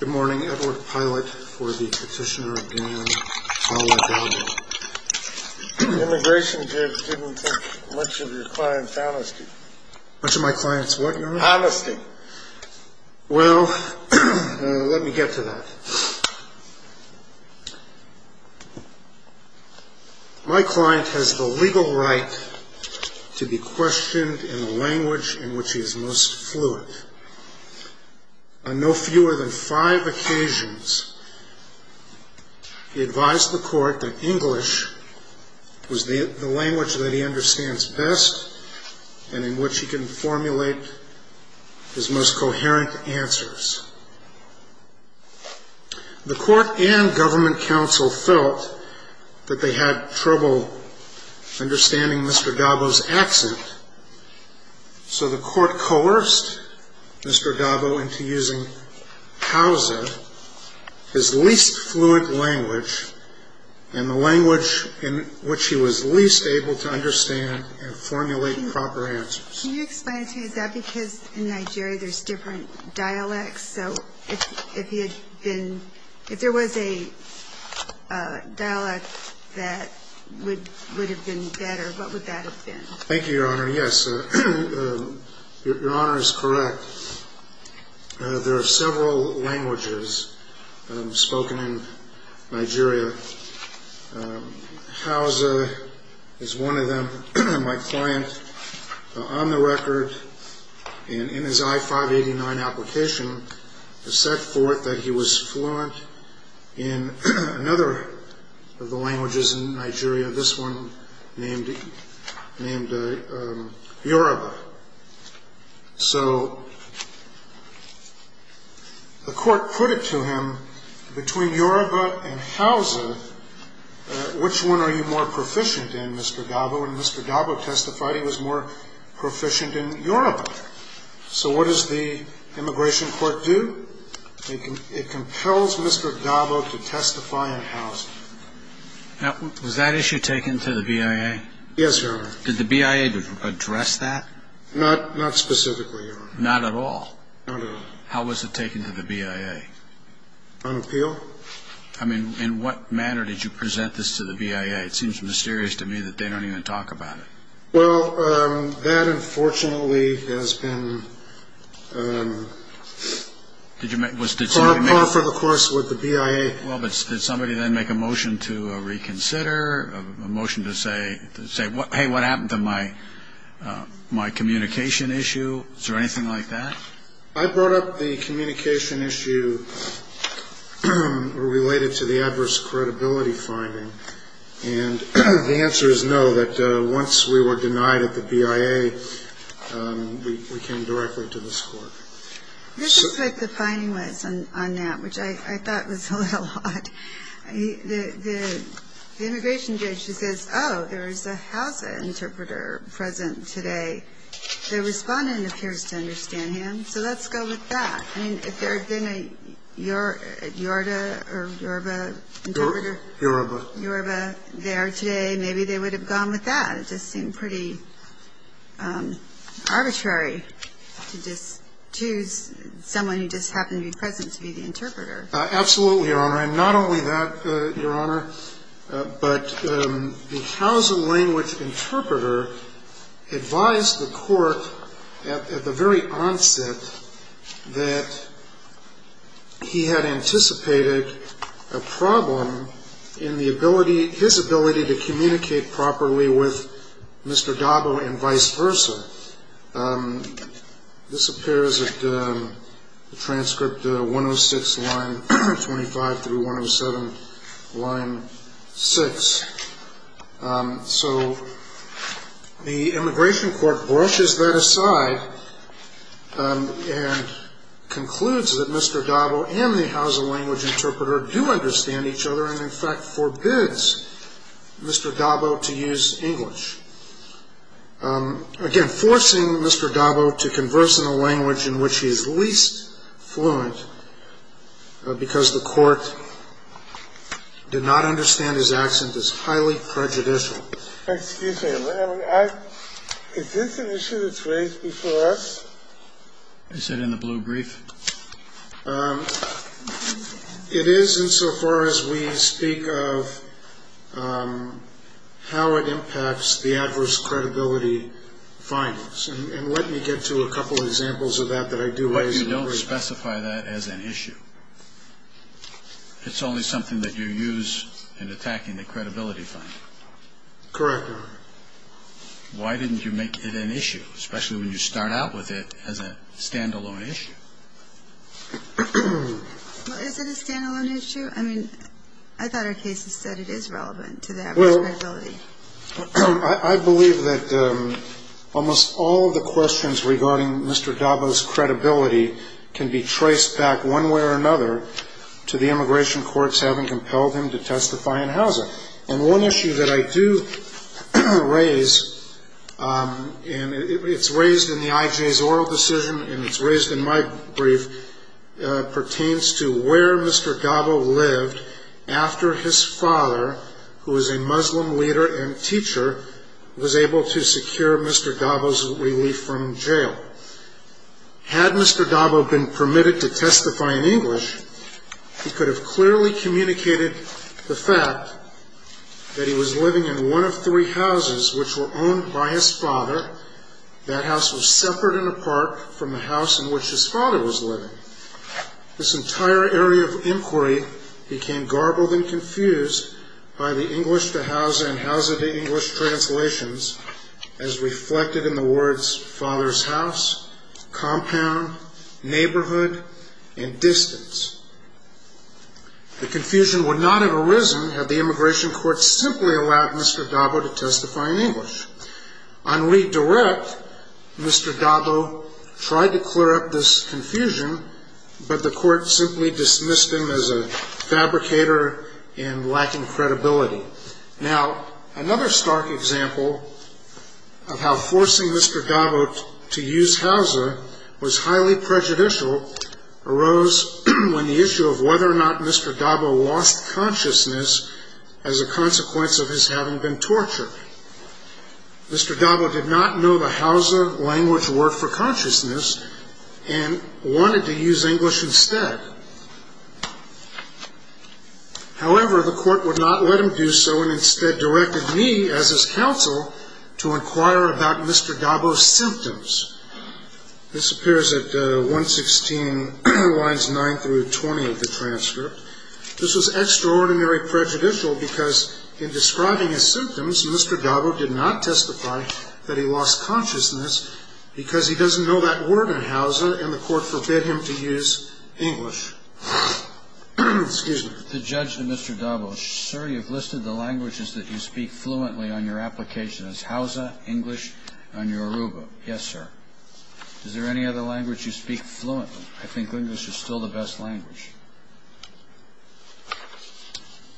Good morning, Edward Pilot for the Petitioner of Guinea, Paula Dabo. Immigration didn't take much of your client's honesty. Much of my client's what, John? Honesty. Well, let me get to that. My client has the legal right to be questioned in the language in which he is most fluent. On no fewer than five occasions he advised the court that English was the language that he understands best and in which he can formulate his most coherent answers. The court and government counsel felt that they had trouble understanding Mr. Dabo's accent, so the court coerced Mr. Dabo into using Kauze, his least fluent language, and the language in which he was least able to understand and formulate proper answers. Can you explain to me, is that because in Nigeria there's different dialects? So if there was a dialect that would have been better, what would that have been? Thank you, Your Honor, yes. Your Honor is correct. There are several languages spoken in Nigeria. Kauze is one of them. My client, on the record and in his I-589 application, has set forth that he was fluent in another of the languages in Nigeria, this one named Yoruba. So the court put it to him, between Yoruba and Kauze, which one are you more proficient in, Mr. Dabo? And Mr. Dabo testified he was more proficient in Yoruba. So what does the immigration court do? It compels Mr. Dabo to testify in Kauze. Now, was that issue taken to the BIA? Yes, Your Honor. Did the BIA address that? Not specifically, Your Honor. Not at all? Not at all. How was it taken to the BIA? On appeal. I mean, in what manner did you present this to the BIA? It seems mysterious to me that they don't even talk about it. Well, that, unfortunately, has been par for the course with the BIA. Well, but did somebody then make a motion to reconsider, a motion to say, hey, what happened to my communication issue? Was there anything like that? I brought up the communication issue related to the adverse credibility finding. And the answer is no, that once we were denied at the BIA, we came directly to this court. This is what the finding was on that, which I thought was a little odd. The immigration judge, he says, oh, there is a Hausa interpreter present today. The respondent appears to understand him, so let's go with that. I mean, if there had been a Yorta or Yorba interpreter. Yorba. Yorba there today, maybe they would have gone with that. It just seemed pretty arbitrary to just choose someone who just happened to be present to be the interpreter. Absolutely, Your Honor. And not only that, Your Honor, but the Hausa language interpreter advised the court at the very onset that he had anticipated a problem in the ability, his ability to communicate properly with Mr. Dabo and vice versa. This appears at transcript 106, line 25 through 107, line 6. So the immigration court brushes that aside and concludes that Mr. Dabo and the Hausa language interpreter do understand each other and in fact forbids Mr. Dabo to use English. Again, forcing Mr. Dabo to converse in a language in which he is least fluent because the court did not understand his accent is highly prejudicial. Excuse me, is this an issue that's raised before us? I said in the blue brief. It is insofar as we speak of how it impacts the adverse credibility findings. And let me get to a couple of examples of that that I do raise. But you don't specify that as an issue. It's only something that you use in attacking the credibility findings. Correct, Your Honor. Why didn't you make it an issue, especially when you start out with it as a stand-alone issue? Well, is it a stand-alone issue? I mean, I thought our cases said it is relevant to the adverse credibility. I believe that almost all of the questions regarding Mr. Dabo's credibility can be traced back one way or another to the immigration courts having compelled him to testify in Hausa. And one issue that I do raise, and it's raised in the IJ's oral decision and it's raised in my brief, pertains to where Mr. Dabo lived after his father, who is a Muslim leader and teacher, was able to secure Mr. Dabo's relief from jail. Had Mr. Dabo been permitted to testify in English, he could have clearly communicated the fact that he was living in one of three houses which were owned by his father. That house was separate and apart from the house in which his father was living. This entire area of inquiry became garbled and confused by the English to Hausa and Hausa to English translations as reflected in the words, father's house, compound, neighborhood, and distance. The confusion would not have arisen had the immigration courts simply allowed Mr. Dabo to testify in English. On redirect, Mr. Dabo tried to clear up this confusion, but the court simply dismissed him as a fabricator and lacking credibility. Now, another stark example of how forcing Mr. Dabo to use Hausa was highly prejudicial arose when the issue of whether or not Mr. Dabo lost consciousness as a consequence of his having been tortured. Mr. Dabo did not know the Hausa language worked for consciousness and wanted to use English instead. However, the court would not let him do so and instead directed me as his counsel to inquire about Mr. Dabo's symptoms. This appears at 116 lines 9 through 20 of the transcript. This was extraordinary prejudicial because in describing his symptoms, Mr. Dabo did not testify that he lost consciousness because he doesn't know that word in Hausa and the court forbid him to use English. Excuse me. The judge to Mr. Dabo, sir, you've listed the languages that you speak fluently on your application as Hausa, English, and Yoruba. Yes, sir. Is there any other language you speak fluently? I think English is still the best language.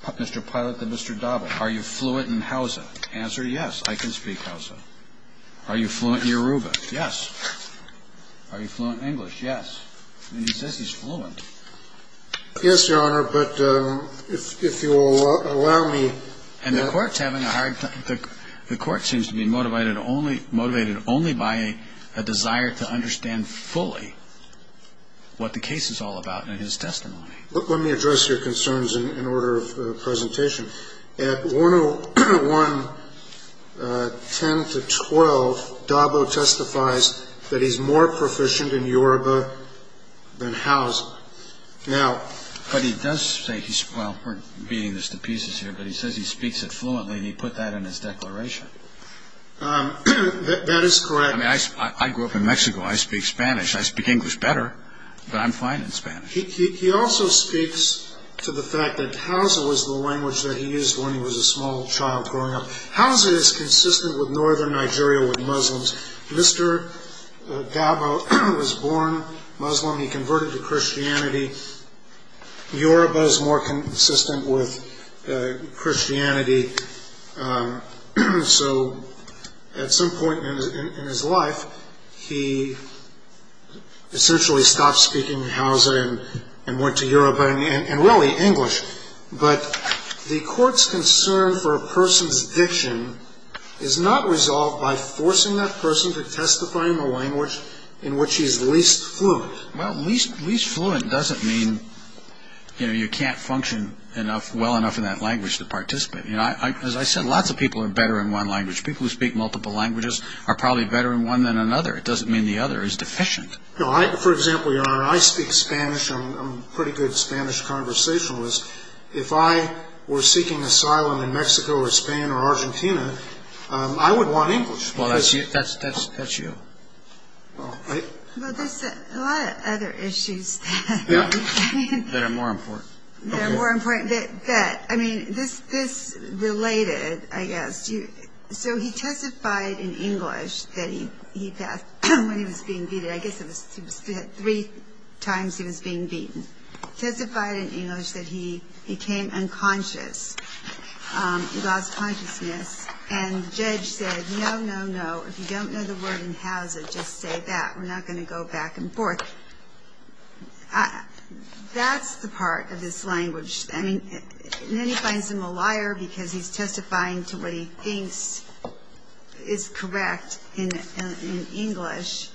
Mr. Pilot to Mr. Dabo, are you fluent in Hausa? Answer, yes, I can speak Hausa. Are you fluent in Yoruba? Yes. Are you fluent in English? Yes. And he says he's fluent. Yes, Your Honor, but if you will allow me. And the court's having a hard time. The court seems to be motivated only by a desire to understand fully what the case is all about in his testimony. Let me address your concerns in order of presentation. At 101.10-12, Dabo testifies that he's more proficient in Yoruba than Hausa. But he does say he's, well, we're beating this to pieces here, but he says he speaks it fluently, and he put that in his declaration. That is correct. I mean, I grew up in Mexico. I speak Spanish. I speak English better, but I'm fine in Spanish. He also speaks to the fact that Hausa was the language that he used when he was a small child growing up. Hausa is consistent with northern Nigeria with Muslims. Mr. Dabo was born Muslim. He converted to Christianity. Yoruba is more consistent with Christianity. So at some point in his life, he essentially stopped speaking Hausa and went to Yoruba and really English. But the court's concern for a person's diction is not resolved by forcing that person to testify in the language in which he's least fluent. Well, least fluent doesn't mean, you know, you can't function well enough in that language to participate. You know, as I said, lots of people are better in one language. People who speak multiple languages are probably better in one than another. It doesn't mean the other is deficient. No, I, for example, Your Honor, I speak Spanish. I'm a pretty good Spanish conversationalist. If I were seeking asylum in Mexico or Spain or Argentina, I would want English. Well, that's you. Well, there's a lot of other issues. Yeah, that are more important. But, I mean, this related, I guess. So he testified in English that he passed when he was being beaten. I guess it was three times he was being beaten. Testified in English that he became unconscious, lost consciousness. And the judge said, no, no, no, if you don't know the word in Hausa, just say that. We're not going to go back and forth. That's the part of his language. I mean, and then he finds him a liar because he's testifying to what he thinks is correct in English.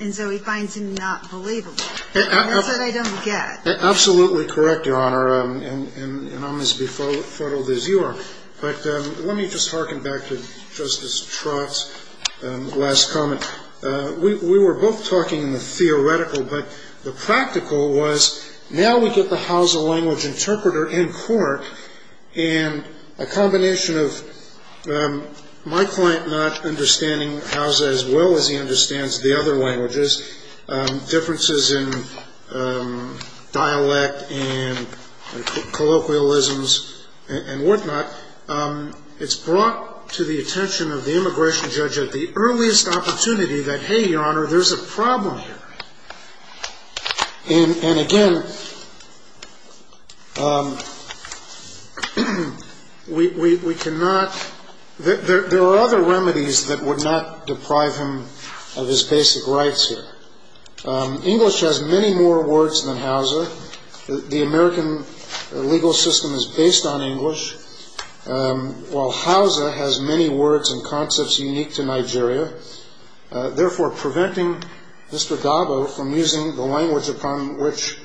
And so he finds him not believable. That's what I don't get. Absolutely correct, Your Honor, and I'm as befuddled as you are. But let me just harken back to Justice Trott's last comment. We were both talking in the theoretical, but the practical was now we get the Hausa language interpreter in court, and a combination of my client not understanding Hausa as well as he understands the other languages, differences in dialect and colloquialisms and whatnot, it's brought to the attention of the immigration judge at the earliest opportunity that, hey, Your Honor, there's a problem here. And again, we cannot, there are other remedies that would not deprive him of his basic rights here. English has many more words than Hausa. The American legal system is based on English, while Hausa has many words and concepts unique to Nigeria, therefore preventing Mr. Dabo from using the language upon which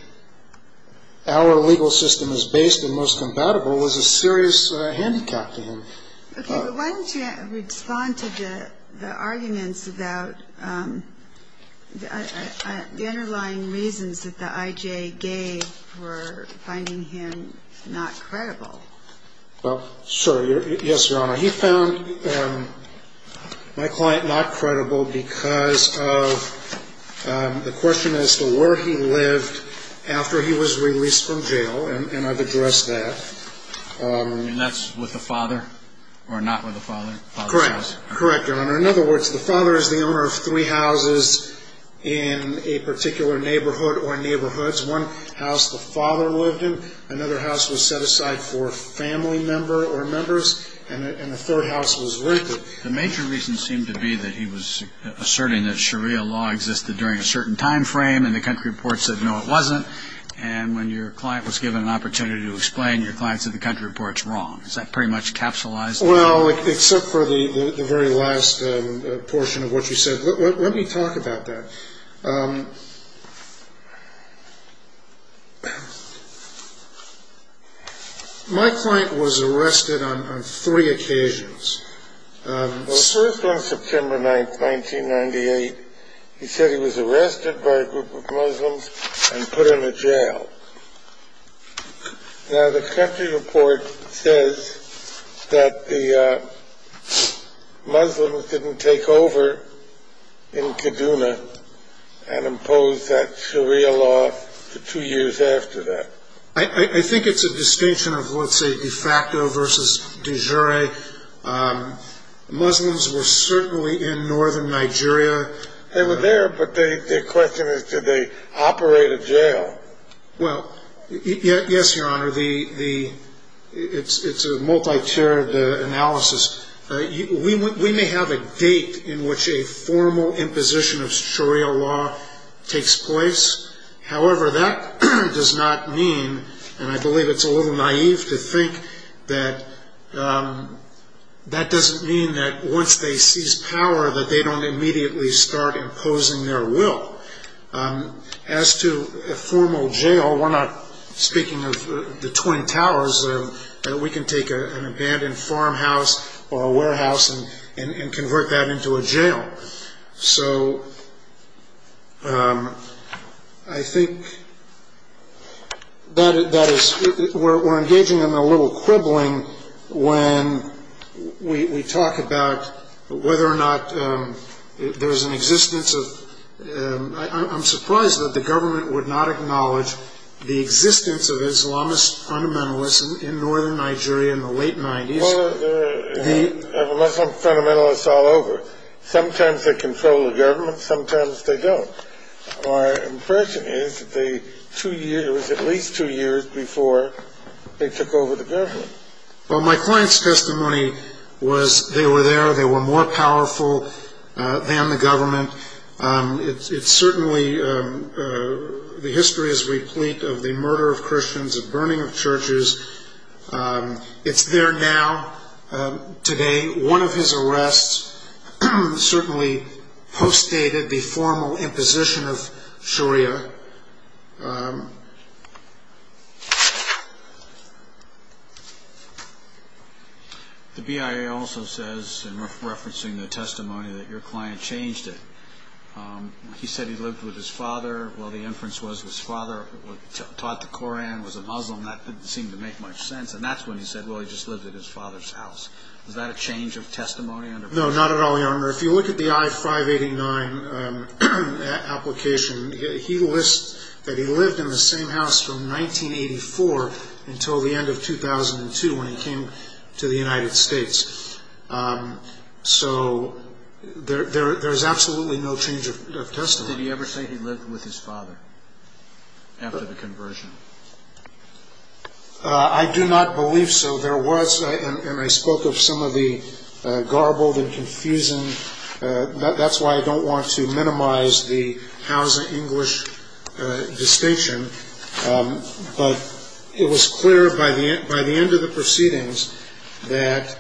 our legal system is based and most compatible is a serious handicap to him. Okay, but why don't you respond to the arguments about the underlying reasons that the IJ gave for finding him not credible? Well, sure, yes, Your Honor. He found my client not credible because of the question as to where he lived after he was released from jail, and I've addressed that. And that's with the father or not with the father? Correct, Your Honor. In other words, the father is the owner of three houses in a particular neighborhood or neighborhoods. One house the father lived in, another house was set aside for family member or members, and the third house was rented. The major reason seemed to be that he was asserting that Sharia law existed during a certain time frame, and the country report said no, it wasn't. And when your client was given an opportunity to explain, your client said the country report's wrong. Is that pretty much capsulized? Well, except for the very last portion of what you said. Let me talk about that. My client was arrested on three occasions. First, on September 9, 1998, he said he was arrested by a group of Muslims and put in a jail. Now, the country report says that the Muslims didn't take over in Kaduna and impose that Sharia law two years after that. I think it's a distinction of, let's say, de facto versus de jure. Muslims were certainly in northern Nigeria. They were there, but the question is, did they operate a jail? Well, yes, Your Honor, it's a multi-tiered analysis. We may have a date in which a formal imposition of Sharia law takes place. However, that does not mean, and I believe it's a little naive to think that that doesn't mean that once they seize power that they don't immediately start imposing their will. As to a formal jail, we're not speaking of the Twin Towers. We can take an abandoned farmhouse or a warehouse and convert that into a jail. So I think that is – we're engaging in a little quibbling when we talk about whether or not there's an existence of – I'm surprised that the government would not acknowledge the existence of Islamist fundamentalists in northern Nigeria in the late 90s. Well, there are Muslim fundamentalists all over. Sometimes they control the government. Sometimes they don't. My impression is it was at least two years before they took over the government. Well, my client's testimony was they were there. They were more powerful than the government. It's certainly – the history is replete of the murder of Christians, the burning of churches. It's there now, today. One of his arrests certainly postdated the formal imposition of Sharia. The BIA also says, referencing the testimony, that your client changed it. Well, the inference was his father taught the Koran, was a Muslim. That didn't seem to make much sense. And that's when he said, well, he just lived at his father's house. Was that a change of testimony? No, not at all, Your Honor. If you look at the I-589 application, he lists that he lived in the same house from 1984 until the end of 2002 when he came to the United States. So there's absolutely no change of testimony. Did he ever say he lived with his father after the conversion? I do not believe so. There was – and I spoke of some of the garbled and confusing – that's why I don't want to minimize the house-English distinction. But it was clear by the end of the proceedings that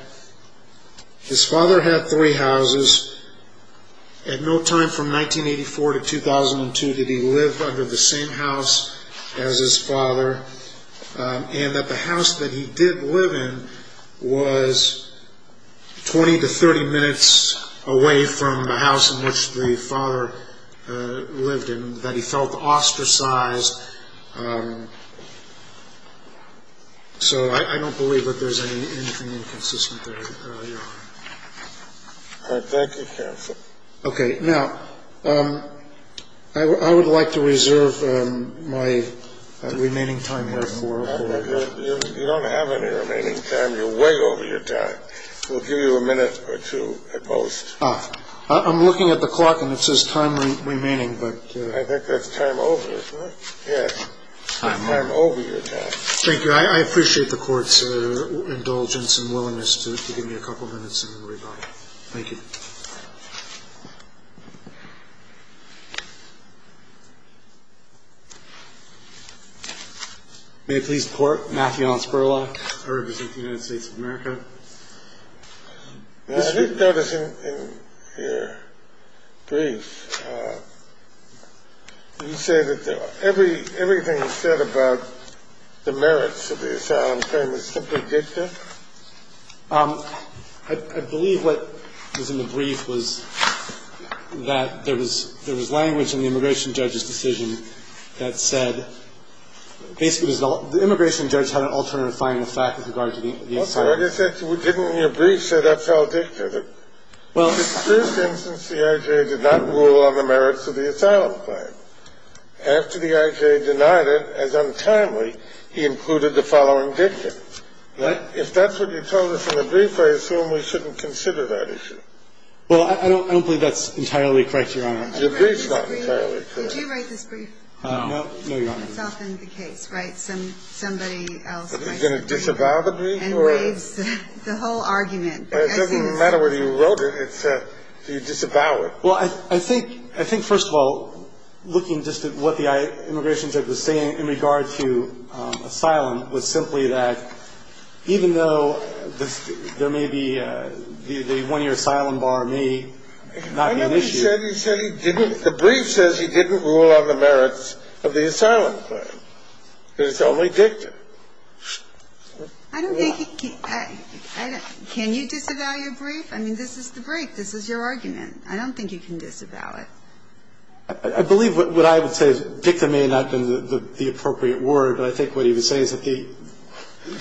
his father had three houses. At no time from 1984 to 2002 did he live under the same house as his father. And that the house that he did live in was 20 to 30 minutes away from the house in which the father lived in, that he felt ostracized. So I don't believe that there's anything inconsistent there, Your Honor. All right. Thank you, counsel. Okay. Now, I would like to reserve my remaining time here for – You don't have any remaining time. You're way over your time. We'll give you a minute or two at most. Ah. I'm looking at the clock and it says time remaining, but – I think that's time over, isn't it? Yes. Time over. Time over your time. Thank you. I appreciate the Court's indulgence and willingness to give me a couple minutes and then we'll go on. Thank you. May it please the Court, Matthew Hansperlock. I represent the United States of America. I did notice in your brief you say that everything you said about the merits of the asylum claim is simply dicta. I believe what was in the brief was that there was language in the immigration judge's decision that said – basically, the immigration judge had an alternative finding of fact with regard to the asylum claim. I guess it didn't in your brief say that's all dicta. The first instance, the I.J. did not rule on the merits of the asylum claim. After the I.J. denied it, as untimely, he included the following dicta. If that's what you told us in the brief, I assume we shouldn't consider that issue. Well, I don't believe that's entirely correct, Your Honor. Your brief's not entirely correct. Did you write this brief? No. No, Your Honor. That's often the case, right? Somebody else writes it. Is it going to disavow the brief? And waives the whole argument. It doesn't matter whether you wrote it. You disavow it. Well, I think – I think, first of all, looking just at what the immigration judge was saying in regard to asylum was simply that even though there may be – the one-year asylum bar may not be an issue. I remember he said he didn't – the brief says he didn't rule on the merits of the asylum claim, that it's only dicta. I don't think he – can you disavow your brief? I mean, this is the brief. This is your argument. I don't think you can disavow it. I believe what I would say is dicta may not have been the appropriate word, but I think what he was saying is that he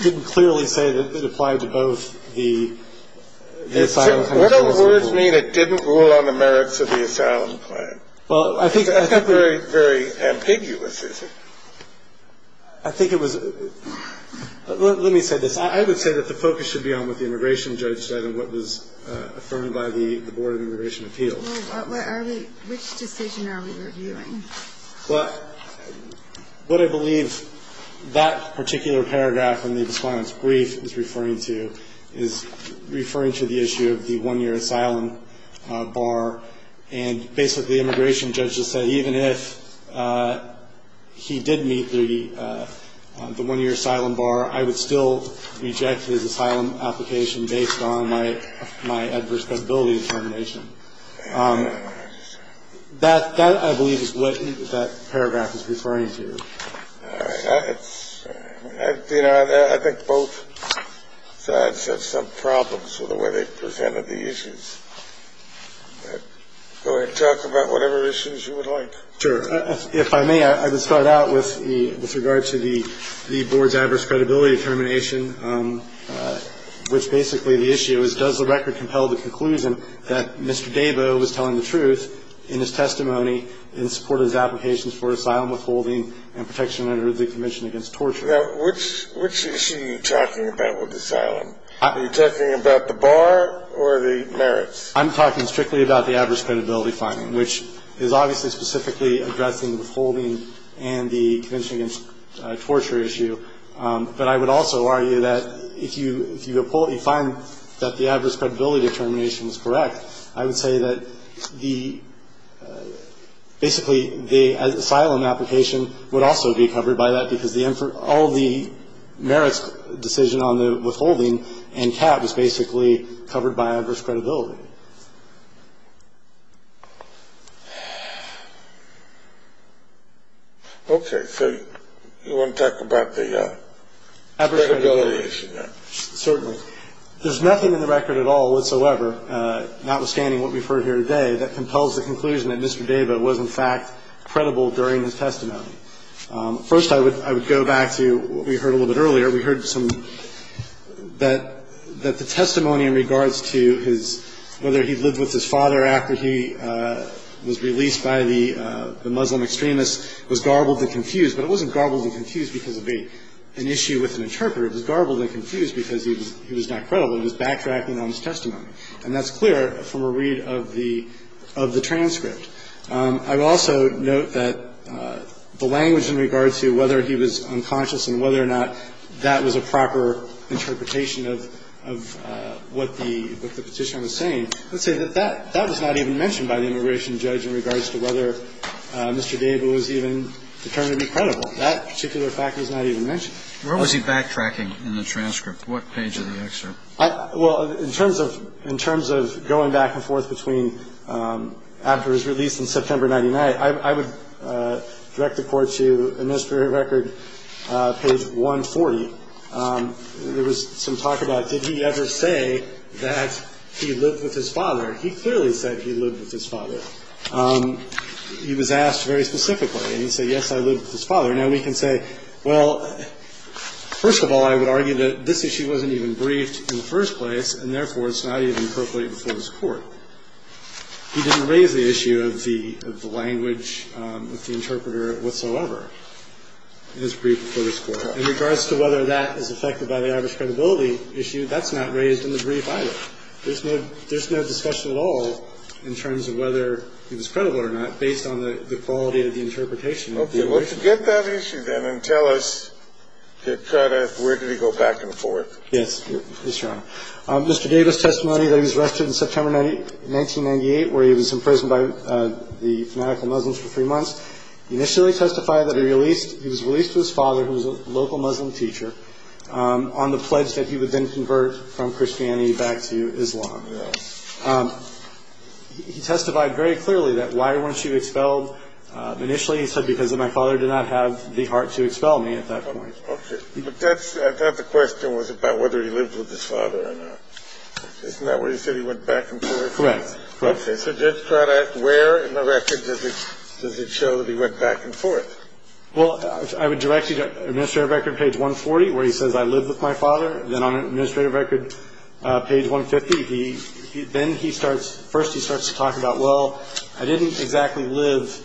didn't clearly say that it applied to both the asylum claims. What do words mean that didn't rule on the merits of the asylum claim? Well, I think – That's very, very ambiguous, isn't it? I think it was – let me say this. I would say that the focus should be on what the immigration judge said and what was affirmed by the Board of Immigration Appeals. Well, what are we – which decision are we reviewing? Well, what I believe that particular paragraph in the response brief is referring to is referring to the issue of the one-year asylum bar. And basically the immigration judge just said even if he did meet the one-year asylum bar, I would still reject his asylum application based on my adverse credibility determination. That, I believe, is what that paragraph is referring to. All right. I think both sides have some problems with the way they presented the issues. Go ahead and talk about whatever issues you would like. Sure. If I may, I would start out with regard to the board's adverse credibility determination, which basically the issue is does the record compel the conclusion that Mr. Debo was telling the truth in his testimony in support of his applications for asylum withholding and protection under the Convention Against Torture? Now, which issue are you talking about with asylum? Are you talking about the bar or the merits? I'm talking strictly about the adverse credibility finding, which is obviously specifically addressing withholding and the Convention Against Torture issue. But I would also argue that if you find that the adverse credibility determination is correct, I would say that basically the asylum application would also be covered by that because all the merits decision on the withholding and cap is basically covered by adverse credibility. Okay. So you want to talk about the credibility issue now? Certainly. There's nothing in the record at all whatsoever, notwithstanding what we've heard here today, that compels the conclusion that Mr. Debo was, in fact, credible during his testimony. First, I would go back to what we heard a little bit earlier. We heard some that the testimony in regards to his, whether he lived with his father after he was released by the Muslim extremists was garbled and confused. But it wasn't garbled and confused because of an issue with an interpreter. It was garbled and confused because he was not credible. It was backtracking on his testimony. And that's clear from a read of the transcript. I would also note that the language in regards to whether he was unconscious and whether or not that was a proper interpretation of what the Petitioner was saying, I would say that that was not even mentioned by the immigration judge in regards to whether Mr. Debo was even determined to be credible. That particular fact was not even mentioned. Where was he backtracking in the transcript? What page of the excerpt? Well, in terms of going back and forth between after his release in September 99, I would direct the Court to Administrative Record page 140. There was some talk about did he ever say that he lived with his father. He clearly said he lived with his father. He was asked very specifically. I would argue that this issue wasn't even briefed in the first place, and therefore it's not even appropriate before this Court. He didn't raise the issue of the language of the interpreter whatsoever in his brief before this Court. In regards to whether that is affected by the Irish credibility issue, that's not raised in the brief either. There's no discussion at all in terms of whether he was credible or not based on the quality of the interpretation of the immigration judge. But to get that issue, then, and tell us the credit, where did he go back and forth? Yes, Your Honor. Mr. Debo's testimony that he was arrested in September 1998, where he was imprisoned by the fanatical Muslims for three months, initially testified that he was released to his father, who was a local Muslim teacher, on the pledge that he would then convert from Christianity back to Islam. Yes. He testified very clearly that why weren't you expelled? Initially, he said because my father did not have the heart to expel me at that point. Okay. But that's the question was about whether he lived with his father or not. Isn't that where he said he went back and forth? Correct. Okay. So just try to ask where in the record does it show that he went back and forth? Well, I would direct you to Administrative Record, page 140, where he says I lived with my father. Then on Administrative Record, page 150, then he starts to talk about, well, I didn't exactly live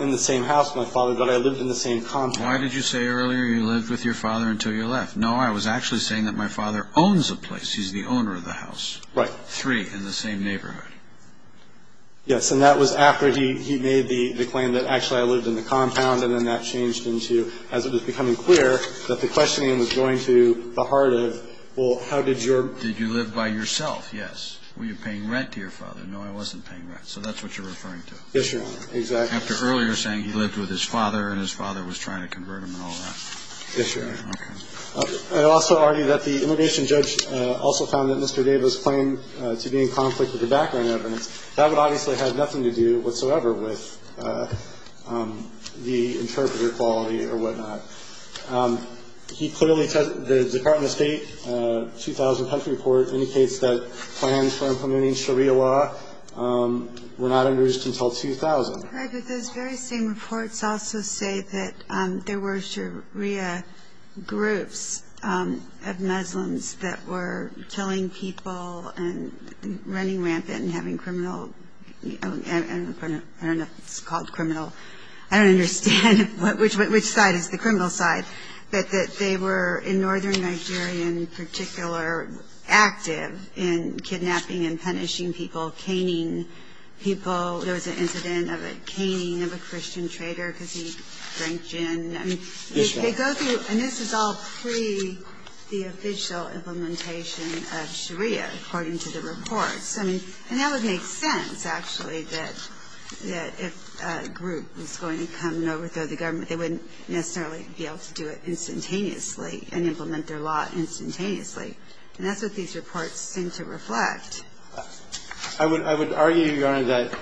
in the same house with my father, but I lived in the same compound. Why did you say earlier you lived with your father until you left? No, I was actually saying that my father owns a place. He's the owner of the house. Right. Three in the same neighborhood. Yes, and that was after he made the claim that, actually, I lived in the compound, and then that changed into, as it was becoming clear, that the questioning was going to the heart of, well, how did your... Did you live by yourself? Yes. Were you paying rent to your father? No, I wasn't paying rent. So that's what you're referring to. Yes, Your Honor. Exactly. After earlier saying he lived with his father and his father was trying to convert him and all that. Yes, Your Honor. Okay. I would also argue that the interrogation judge also found that Mr. Davis' claim to be in conflict with the background evidence, that would obviously have nothing to do whatsoever with the interpreter quality or whatnot. He clearly said the Department of State 2000 country report indicates that plans for implementing Sharia law were not introduced until 2000. Right, but those very same reports also say that there were Sharia groups of Muslims that were killing people and running rampant and having criminal... I don't know if it's called criminal. I don't understand which side is the criminal side. They were in northern Nigeria in particular active in kidnapping and punishing people, caning people. There was an incident of a caning of a Christian trader because he drank gin. Yes, Your Honor. And this is all pre the official implementation of Sharia according to the reports. And that would make sense, actually, that if a group was going to come and overthrow the government, they wouldn't necessarily be able to do it instantaneously and implement their law instantaneously. And that's what these reports seem to reflect. I would argue, Your Honor, that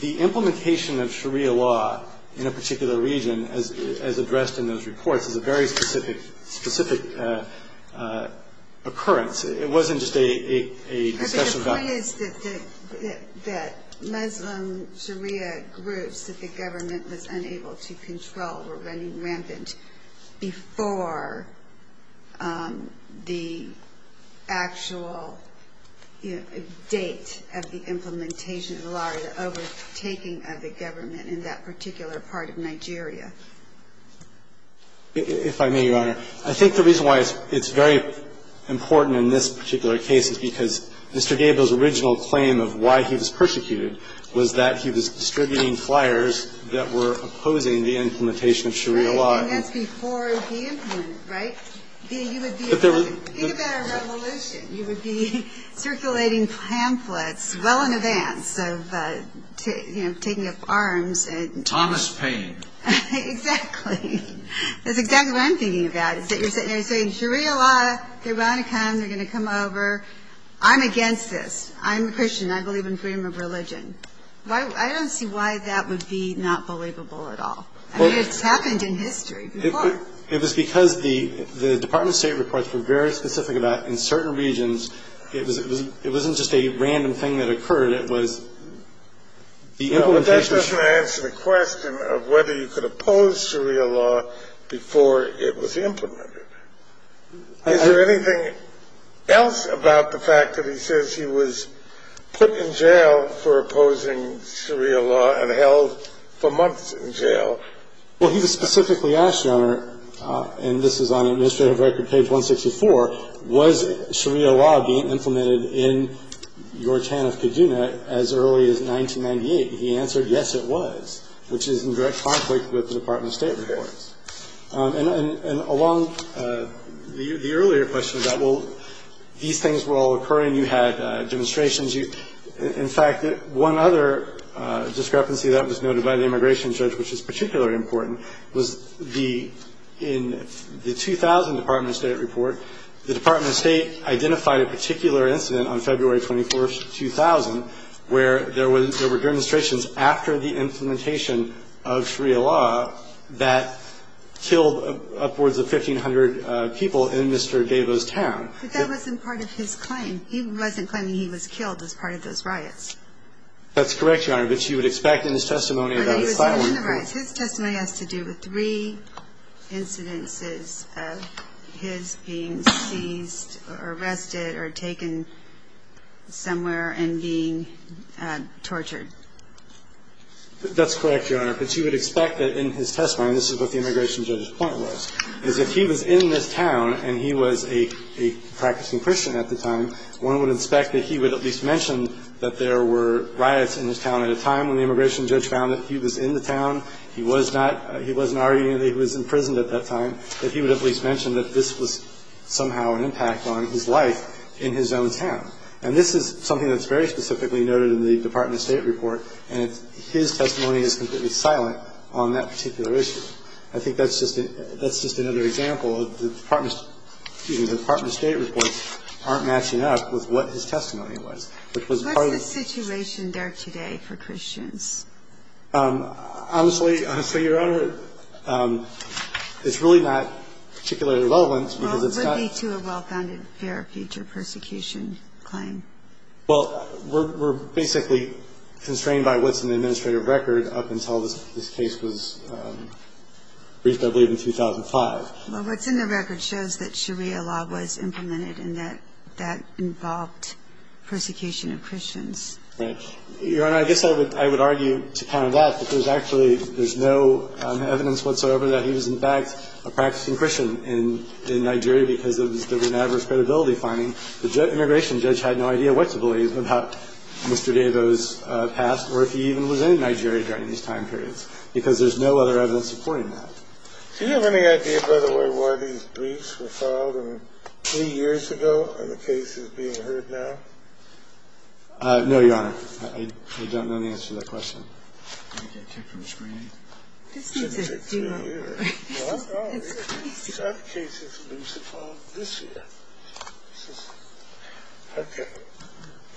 the implementation of Sharia law in a particular region as addressed in those reports is a very specific occurrence. It wasn't just a discussion about... The point is that Muslim Sharia groups that the government was unable to control were running rampant before the actual date of the implementation of the law or the overtaking of the government in that particular part of Nigeria. If I may, Your Honor, I think the reason why it's very important in this particular case is because Mr. Gabel's original claim of why he was persecuted was that he was distributing flyers that were opposing the implementation of Sharia law. Right, and that's before he implemented it, right? Think about a revolution. You would be circulating pamphlets well in advance of taking up arms and... Thomas Paine. Exactly. That's exactly what I'm thinking about, is that you're sitting there saying, Sharia law, they're going to come, they're going to come over. I'm against this. I'm a Christian. I believe in freedom of religion. I don't see why that would be not believable at all. I mean, it's happened in history before. It was because the Department of State reports were very specific about in certain regions. It wasn't just a random thing that occurred. It was the implementation... of whether you could oppose Sharia law before it was implemented. Is there anything else about the fact that he says he was put in jail for opposing Sharia law and held for months in jail? Well, he was specifically asked, Your Honor, and this is on administrative record, page 164, was Sharia law being implemented in your town of Kaduna as early as 1998? He answered, Yes, it was, which is in direct conflict with the Department of State reports. And along the earlier question about, well, these things were all occurring, you had demonstrations. In fact, one other discrepancy that was noted by the immigration judge, which is particularly important, was in the 2000 Department of State report, the Department of State identified a particular incident on February 24, 2000, where there were demonstrations after the implementation of Sharia law that killed upwards of 1,500 people in Mr. Devo's town. But that wasn't part of his claim. He wasn't claiming he was killed as part of those riots. That's correct, Your Honor. But you would expect in his testimony about asylum... But he was not in the riots. His testimony has to do with three incidences of his being seized or arrested or That's correct, Your Honor. But you would expect that in his testimony, and this is what the immigration judge's point was, is that he was in this town and he was a practicing Christian at the time, one would expect that he would at least mention that there were riots in his town at a time when the immigration judge found that he was in the town, he was not, he wasn't arguing that he was imprisoned at that time, that he would at least mention that this was somehow an impact on his life in his own town. And this is something that's very specifically noted in the Department of State report, and his testimony is completely silent on that particular issue. I think that's just another example of the Department of State reports aren't matching up with what his testimony was. What's the situation there today for Christians? Honestly, Your Honor, it's really not particularly relevant because it's not... Well, we're basically constrained by what's in the administrative record up until this case was briefed, I believe, in 2005. Well, what's in the record shows that Sharia law was implemented and that that involved persecution of Christians. Right. Your Honor, I guess I would argue to counter that, that there's actually, there's no evidence whatsoever that he was in fact a practicing Christian in Nigeria because there was an adverse credibility finding. The immigration judge had no idea what to believe about Mr. Davo's past or if he even was in Nigeria during these time periods because there's no other evidence supporting that. Do you have any idea, by the way, why these briefs were filed three years ago and the case is being heard now? No, Your Honor. I don't know the answer to that question.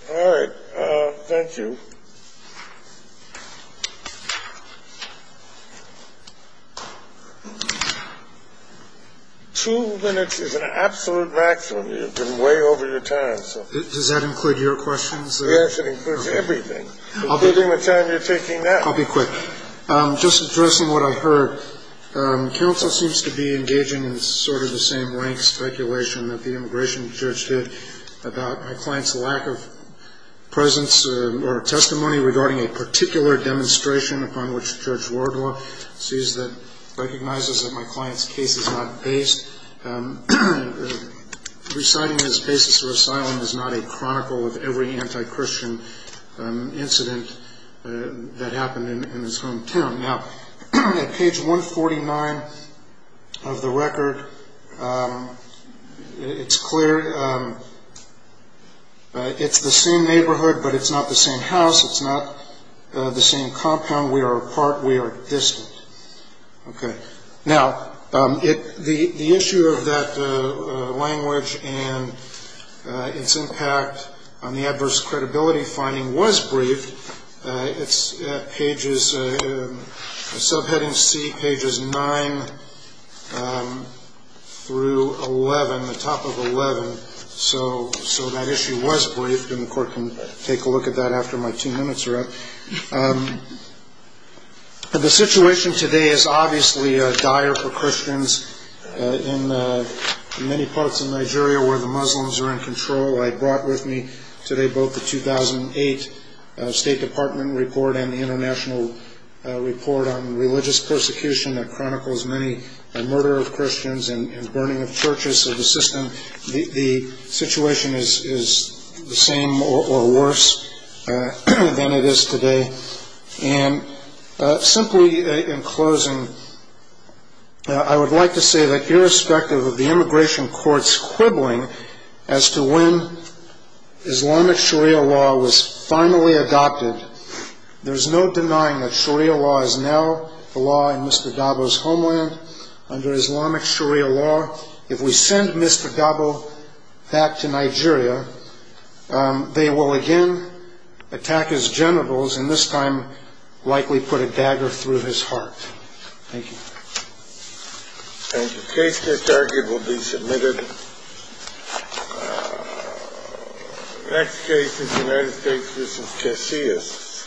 All right. Thank you. Two minutes is an absolute maximum. You've been way over your time. Does that include your questions? Yes, it includes everything, including the time you're taking now. I'll be quick. Just addressing what I heard. Counsel seems to be engaging in sort of the same rank speculation that the immigration judge did about my client's lack of presence or testimony regarding a particular demonstration upon which Judge Wardlaw recognizes that my client's case is not based. Reciting his basis for asylum is not a chronicle of every anti-Christian incident that happened in his hometown. Now, at page 149 of the record, it's clear it's the same neighborhood but it's not the same house. It's not the same compound. We are apart. We are distant. Okay. Now, the issue of that language and its impact on the adverse credibility finding was briefed. It's pages, subheading C, pages 9 through 11, the top of 11. So that issue was briefed, and the court can take a look at that after my two minutes are up. The situation today is obviously dire for Christians in many parts of Nigeria where the Muslims are in control. I brought with me today both the 2008 State Department report and the International Report on Religious Persecution that chronicles many murder of Christians and burning of churches. So the situation is the same or worse than it is today. And simply in closing, I would like to say that irrespective of the immigration courts quibbling as to when Islamic Sharia law was finally adopted, there's no denying that Sharia law is now the law in Mr. Gabo's homeland. Under Islamic Sharia law, if we send Mr. Gabo back to Nigeria, they will again attack his genitals and this time likely put a dagger through his heart. Thank you. Thank you. The case that's argued will be submitted. The next case is United States v. Casillas.